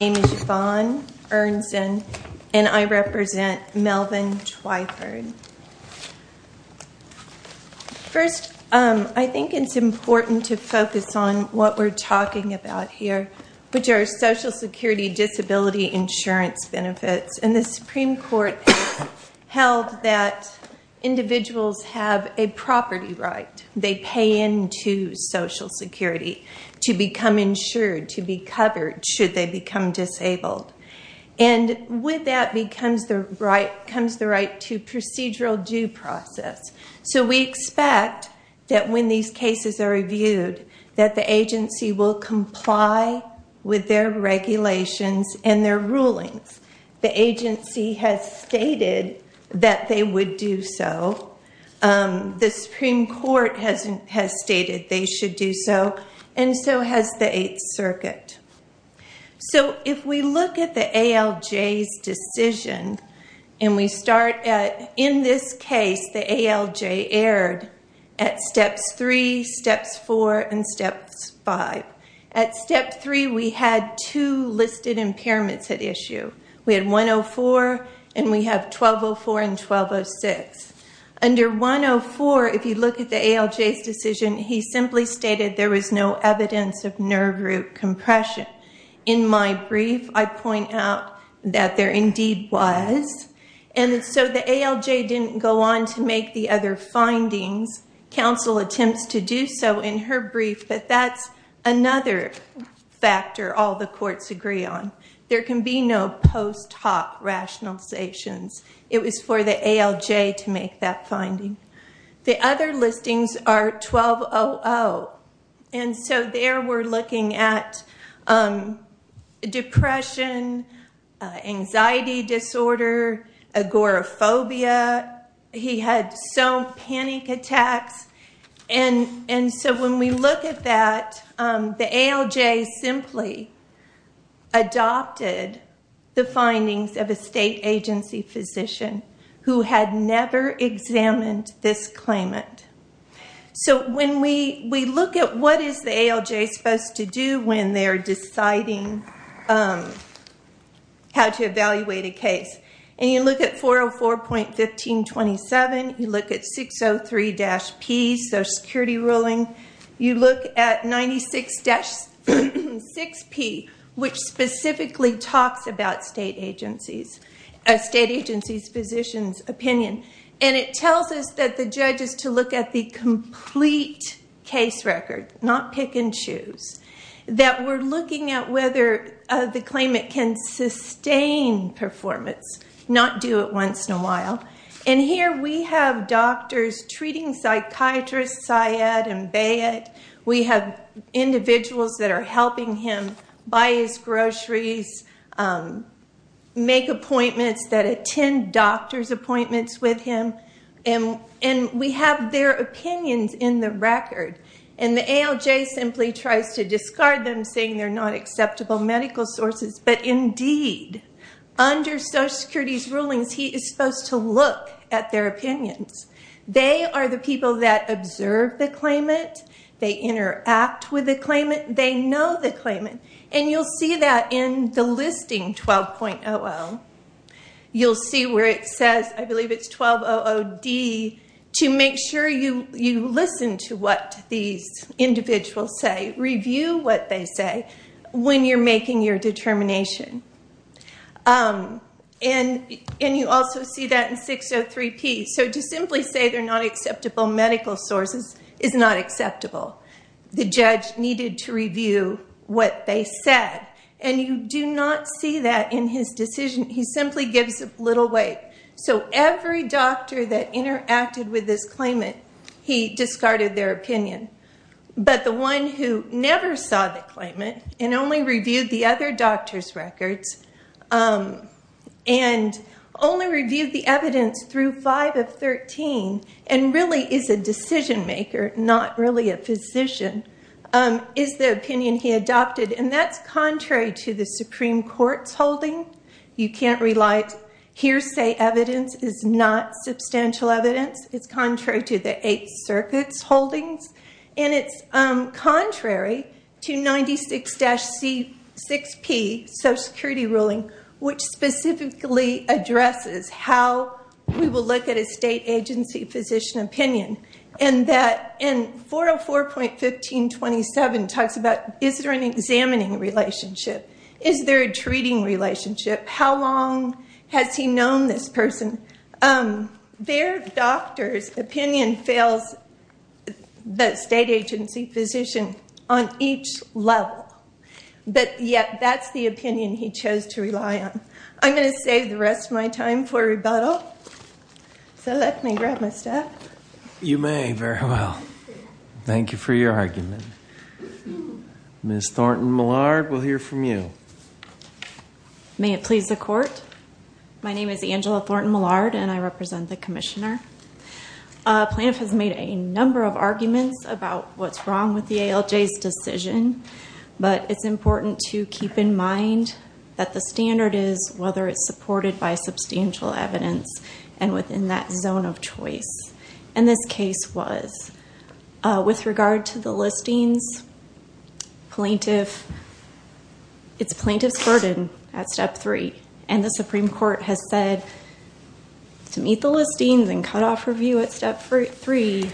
My name is Yvonne Ernst, and I represent Melvin Twyford. First, I think it's important to focus on what we're talking about here, which are Social Security disability insurance benefits. And the Supreme Court held that individuals have a property right. They pay into Social Security to become insured, to be covered, should they become disabled. And with that comes the right to procedural due process. So we expect that when these cases are reviewed, that the agency will comply with their regulations and their rulings. The agency has stated that they would do so. The Supreme Court has stated they should do so. And so has the Eighth Circuit. So if we look at the ALJ's decision, and we start at, in this case, the ALJ erred at Steps 3, Steps 4, and Steps 5. At Step 3, we had two listed impairments at issue. We had 104, and we have 1204 and 1206. Under 104, if you look at the ALJ's decision, he simply stated there was no evidence of nerve root compression. In my brief, I point out that there indeed was. And so the ALJ didn't go on to make the other findings. Counsel attempts to do so in her brief, but that's another factor all the courts agree on. There can be no post hoc rationalizations. It was for the ALJ to make that finding. The other listings are 1200. And so there we're looking at depression, anxiety disorder, agoraphobia. He had some panic attacks. And so when we look at that, the ALJ simply adopted the findings of a state agency physician who had never examined this claimant. So when we look at what is the ALJ supposed to do when they're deciding how to evaluate a case, and you look at 404.1527, you look at 603-P, Social Security ruling, you look at 96-6P, which specifically talks about a state agency's physician's opinion. And it tells us that the judge is to look at the complete case record, not pick and choose. That we're looking at whether the claimant can sustain performance, not do it once in a while. And here we have doctors treating psychiatrists, Syed and Bayet. We have individuals that are helping him buy his groceries, make appointments that attend doctor's appointments with him. And we have their opinions in the record. And the ALJ simply tries to discard them, saying they're not acceptable medical sources. But indeed, under Social Security's rulings, he is supposed to look at their opinions. They are the people that observe the claimant. They interact with the claimant. They know the claimant. And you'll see that in the listing 12.00. You'll see where it says, I believe it's 12.00D, to make sure you listen to what these individuals say, review what they say when you're making your determination. And you also see that in 603P. So to simply say they're not acceptable medical sources is not acceptable. The judge needed to review what they said. And you do not see that in his decision. He simply gives a little weight. So every doctor that interacted with this claimant, he discarded their opinion. But the one who never saw the claimant and only reviewed the other doctor's records and only reviewed the evidence through 5.00 of 13.00 and really is a decision-maker, not really a physician, is the opinion he adopted. And that's contrary to the Supreme Court's holding. You can't relate hearsay evidence is not substantial evidence. It's contrary to the Eighth Circuit's holdings. And it's contrary to 96-C6P, Social Security ruling, which specifically addresses how we will look at a state agency physician opinion. And 404.1527 talks about, is there an examining relationship? Is there a treating relationship? How long has he known this person? Their doctor's opinion fills the state agency physician on each level. But yet that's the opinion he chose to rely on. I'm going to save the rest of my time for rebuttal. So let me grab my stuff. You may very well. Thank you for your argument. Ms. Thornton-Millard, we'll hear from you. May it please the Court. My name is Angela Thornton-Millard, and I represent the commissioner. Plaintiff has made a number of arguments about what's wrong with the ALJ's decision. But it's important to keep in mind that the standard is whether it's supported by substantial evidence and within that zone of choice. And this case was. With regard to the listings, plaintiff. It's plaintiff's burden at step three. And the Supreme Court has said to meet the listings and cut off review at step three.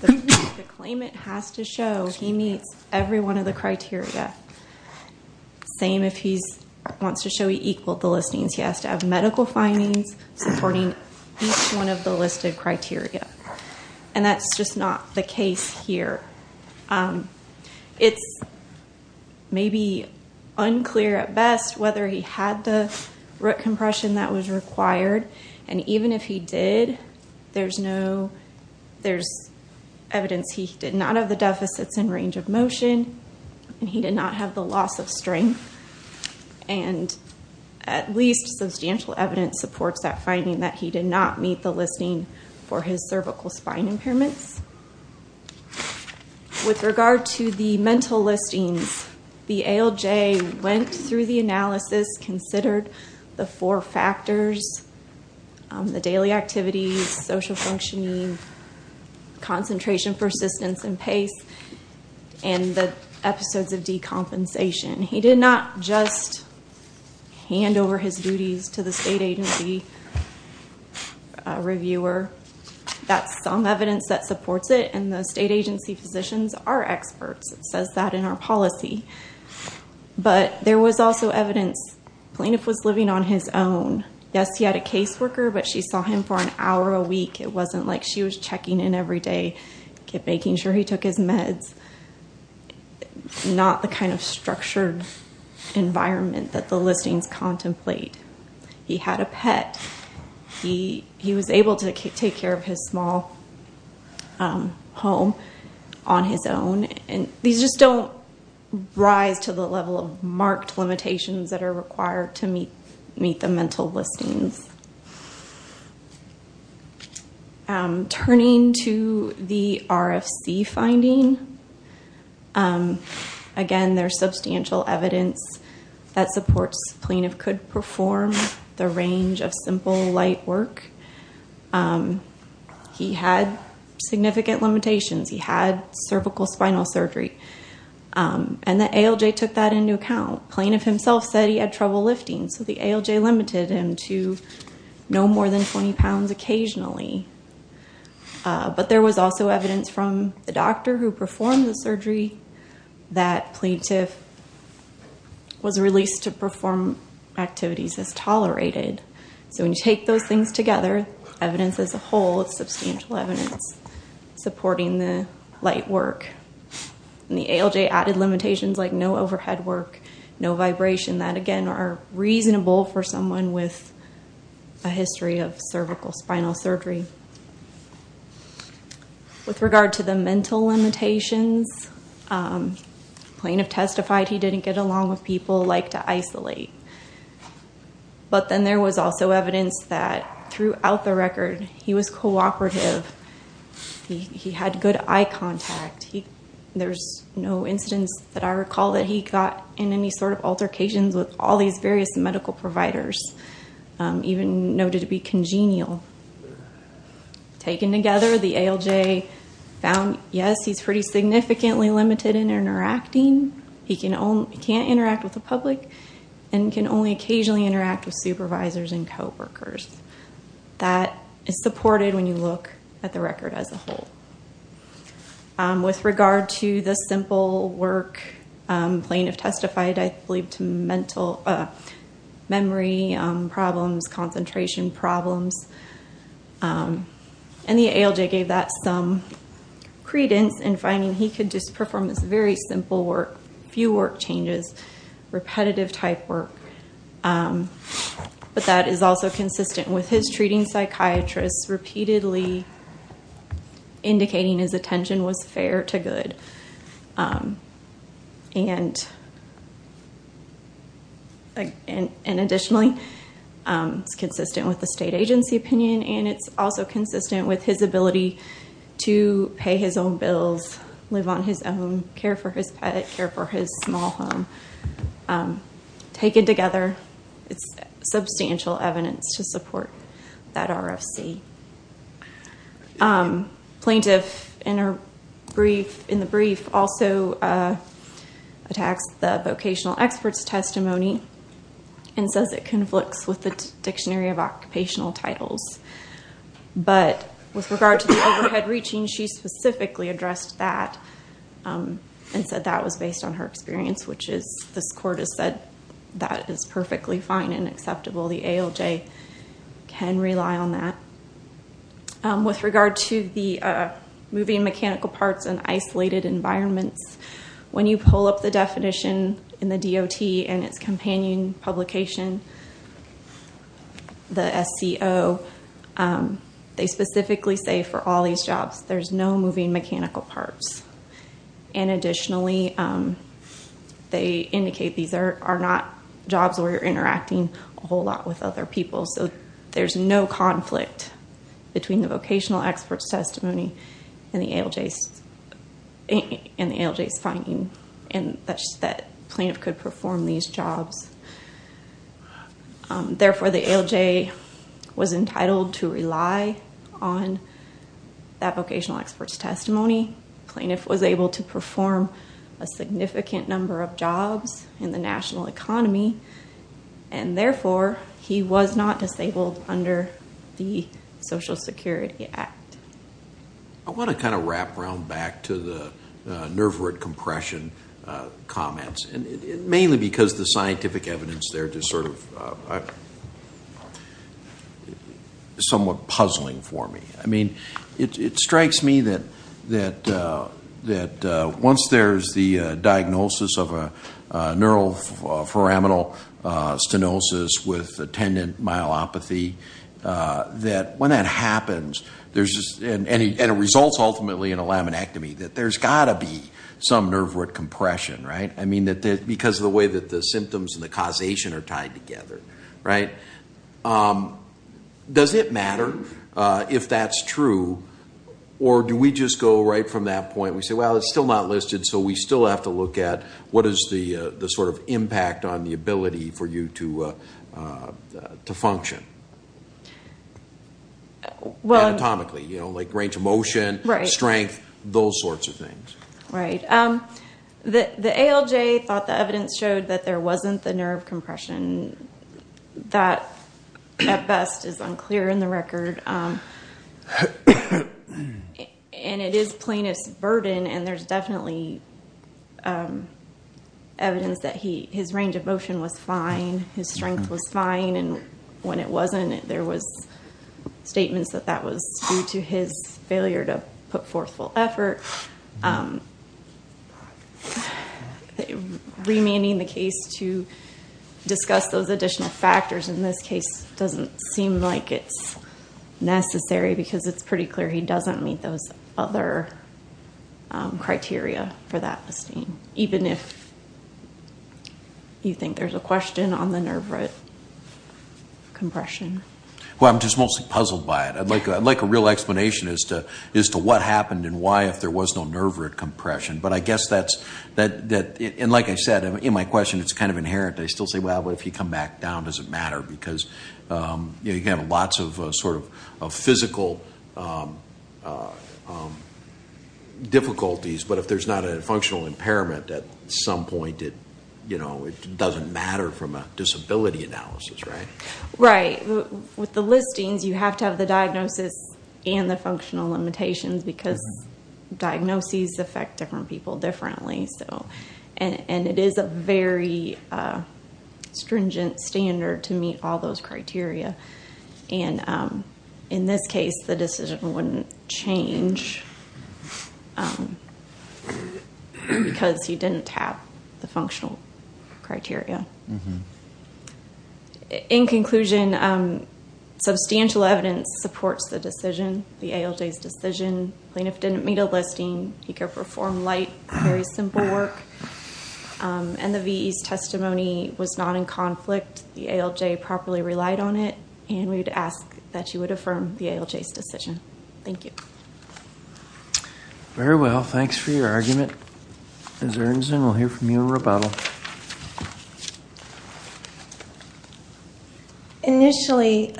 The claimant has to show he meets every one of the criteria. Same if he wants to show he equaled the listings. He has to have medical findings supporting each one of the listed criteria. And that's just not the case here. It's maybe unclear at best whether he had the root compression that was required. And even if he did, there's evidence he did not have the deficits in range of motion. And he did not have the loss of strength. And at least substantial evidence supports that finding that he did not meet the listing for his cervical spine impairments. With regard to the mental listings, the ALJ went through the analysis, considered the four factors, the daily activities, social functioning, concentration, persistence, and pace, and the episodes of decompensation. He did not just hand over his duties to the state agency reviewer. That's some evidence that supports it, and the state agency physicians are experts. It says that in our policy. But there was also evidence plaintiff was living on his own. Yes, he had a caseworker, but she saw him for an hour a week. It wasn't like she was checking in every day, making sure he took his meds. Not the kind of structured environment that the listings contemplate. He had a pet. He was able to take care of his small home on his own, and these just don't rise to the level of marked limitations that are required to meet the mental listings. Turning to the RFC finding, again, there's substantial evidence that supports plaintiff could perform the range of simple light work. He had significant limitations. He had cervical spinal surgery, and the ALJ took that into account. Plaintiff himself said he had trouble lifting, so the ALJ limited him to no more than 20 pounds occasionally. But there was also evidence from the doctor who performed the surgery that plaintiff was released to perform activities as tolerated. So when you take those things together, evidence as a whole, it's substantial evidence supporting the light work. The ALJ added limitations like no overhead work, no vibration. That, again, are reasonable for someone with a history of cervical spinal surgery. With regard to the mental limitations, plaintiff testified he didn't get along with people, liked to isolate. But then there was also evidence that throughout the record he was cooperative. He had good eye contact. There's no instance that I recall that he got in any sort of altercations with all these various medical providers, even noted to be congenial. Taken together, the ALJ found, yes, he's pretty significantly limited in interacting. He can't interact with the public and can only occasionally interact with supervisors and coworkers. That is supported when you look at the record as a whole. With regard to the simple work, plaintiff testified, I believe, to memory problems, concentration problems. And the ALJ gave that some credence in finding he could just perform this very simple work, few work changes, repetitive type work. But that is also consistent with his treating psychiatrists repeatedly indicating his attention was fair to good. And additionally, it's consistent with the state agency opinion, and it's also consistent with his ability to pay his own bills, live on his own, care for his pet, care for his small home. Taken together, it's substantial evidence to support that RFC. Plaintiff, in the brief, also attacks the vocational expert's testimony and says it conflicts with the Dictionary of Occupational Titles. But with regard to the overhead reaching, she specifically addressed that and said that was based on her experience, which this court has said that is perfectly fine and acceptable. The ALJ can rely on that. With regard to the moving mechanical parts in isolated environments, when you pull up the definition in the DOT and its companion publication, the SCO, they specifically say for all these jobs, there's no moving mechanical parts. And additionally, they indicate these are not jobs where you're interacting a whole lot with other people, so there's no conflict between the vocational expert's testimony and the ALJ's finding, and that plaintiff could perform these jobs. Therefore, the ALJ was entitled to rely on that vocational expert's testimony. Plaintiff was able to perform a significant number of jobs in the national economy, and therefore, he was not disabled under the Social Security Act. I want to kind of wrap around back to the NERVRT compression comments, mainly because the scientific evidence there is sort of somewhat puzzling for me. I mean, it strikes me that once there's the diagnosis of a neuroforaminal stenosis with attendant myelopathy, that when that happens, and it results ultimately in a laminectomy, that there's got to be some NERVRT compression. I mean, because of the way that the symptoms and the causation are tied together. Does it matter if that's true, or do we just go right from that point? We say, well, it's still not listed, so we still have to look at what is the sort of impact on the ability for you to function? Anatomically, like range of motion, strength, those sorts of things. Right. The ALJ thought the evidence showed that there wasn't the NERVRT compression. That, at best, is unclear in the record, and it is plaintiff's burden, and there's definitely evidence that his range of motion was fine, his strength was fine, and when it wasn't, there was statements that that was due to his failure to put forth full effort. Remanding the case to discuss those additional factors in this case doesn't seem like it's necessary, because it's pretty clear he doesn't meet those other criteria for that listing, even if you think there's a question on the NERVRT compression. Well, I'm just mostly puzzled by it. I'd like a real explanation as to what happened and why, if there was no NERVRT compression, but I guess that's, and like I said, in my question, it's kind of inherent. I still say, well, if you come back down, does it matter? Because, again, lots of sort of physical difficulties, but if there's not a functional impairment at some point, it doesn't matter from a disability analysis, right? Right. With the listings, you have to have the diagnosis and the functional limitations, because diagnoses affect different people differently, and it is a very stringent standard to meet all those criteria. And in this case, the decision wouldn't change because he didn't have the functional criteria. In conclusion, substantial evidence supports the decision, the ALJ's decision. Plaintiff didn't meet a listing. He could have performed light, very simple work, and the VE's testimony was not in conflict. The ALJ properly relied on it, and we would ask that you would affirm the ALJ's decision. Thank you. Very well. Thanks for your argument. Ms. Ernst, and we'll hear from you in rebuttal. Initially,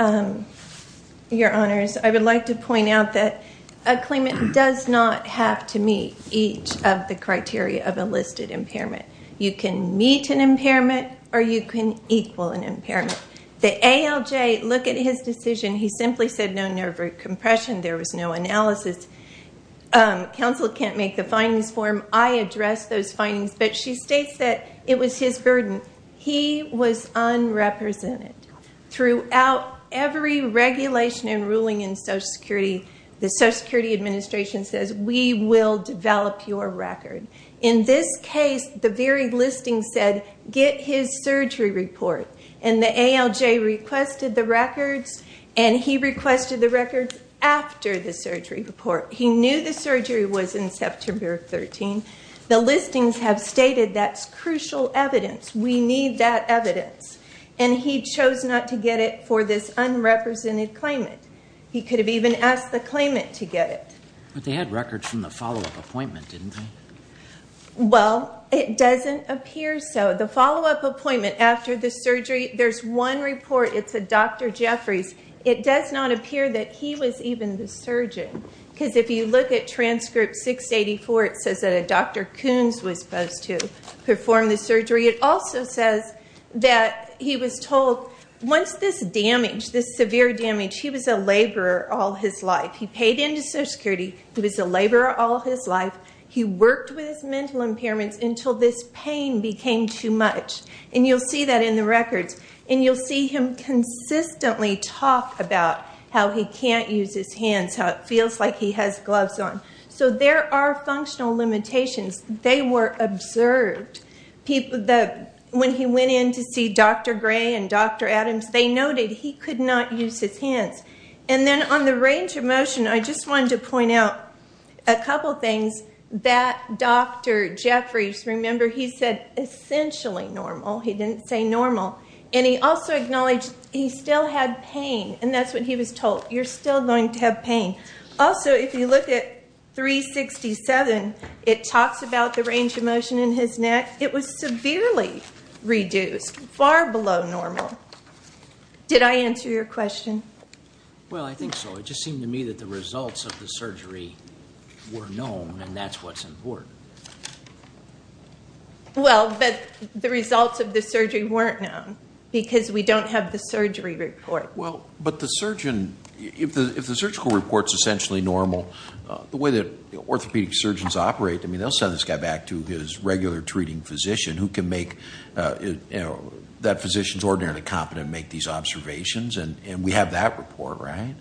Your Honors, I would like to point out that a claimant does not have to meet each of the criteria of a listed impairment. You can meet an impairment or you can equal an impairment. The ALJ, look at his decision. He simply said no nerve root compression. There was no analysis. Counsel can't make the findings form. I addressed those findings, but she states that it was his burden. He was unrepresented. Throughout every regulation and ruling in Social Security, the Social Security Administration says we will develop your record. In this case, the very listing said get his surgery report, and the ALJ requested the records, and he requested the records after the surgery report. He knew the surgery was in September 13. The listings have stated that's crucial evidence. We need that evidence, and he chose not to get it for this unrepresented claimant. He could have even asked the claimant to get it. But they had records from the follow-up appointment, didn't they? Well, it doesn't appear so. The follow-up appointment after the surgery, there's one report. It's a Dr. Jeffries. It does not appear that he was even the surgeon because if you look at transcript 684, it says that a Dr. Koons was supposed to perform the surgery. It also says that he was told once this damage, this severe damage, he was a laborer all his life. He paid into Social Security. He was a laborer all his life. He worked with his mental impairments until this pain became too much, and you'll see that in the records. And you'll see him consistently talk about how he can't use his hands, how it feels like he has gloves on. So there are functional limitations. They were observed. When he went in to see Dr. Gray and Dr. Adams, they noted he could not use his hands. And then on the range of motion, I just wanted to point out a couple things. That Dr. Jeffries, remember, he said essentially normal. He didn't say normal. And he also acknowledged he still had pain, and that's what he was told. You're still going to have pain. Also, if you look at 367, it talks about the range of motion in his neck. It was severely reduced, far below normal. Did I answer your question? Well, I think so. It just seemed to me that the results of the surgery were known, and that's what's important. Well, but the results of the surgery weren't known because we don't have the surgery report. Well, but the surgeon, if the surgical report's essentially normal, the way that orthopedic surgeons operate, I mean, they'll send this guy back to his regular treating physician who can make, you know, that physician's ordinarily competent to make these observations, and we have that report, right?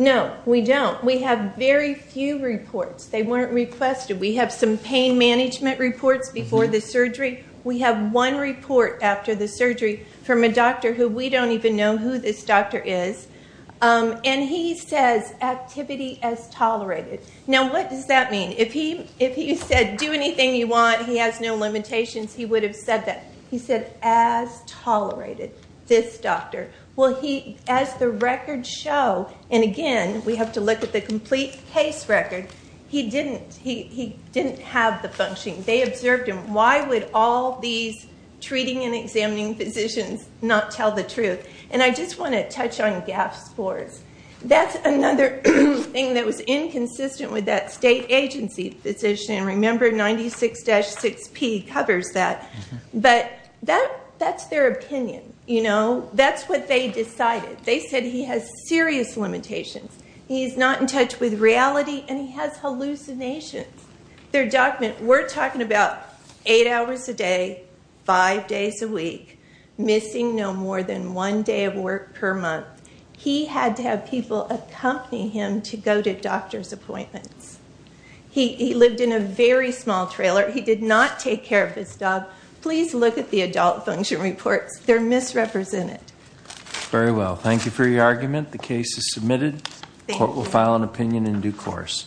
No, we don't. We have very few reports. They weren't requested. We have some pain management reports before the surgery. We have one report after the surgery from a doctor who we don't even know who this doctor is, and he says activity as tolerated. Now, what does that mean? If he said do anything you want, he has no limitations, he would have said that. Activity as tolerated, this doctor. Well, he, as the records show, and again, we have to look at the complete case record, he didn't have the function. They observed him. Why would all these treating and examining physicians not tell the truth? And I just want to touch on GAP scores. That's another thing that was inconsistent with that state agency physician. Remember, 96-6P covers that. But that's their opinion, you know. That's what they decided. They said he has serious limitations. He's not in touch with reality, and he has hallucinations. Their document, we're talking about eight hours a day, five days a week, missing no more than one day of work per month. He had to have people accompany him to go to doctor's appointments. He lived in a very small trailer. He did not take care of his dog. Please look at the adult function reports. They're misrepresented. Very well. Thank you for your argument. The case is submitted. Court will file an opinion in due course.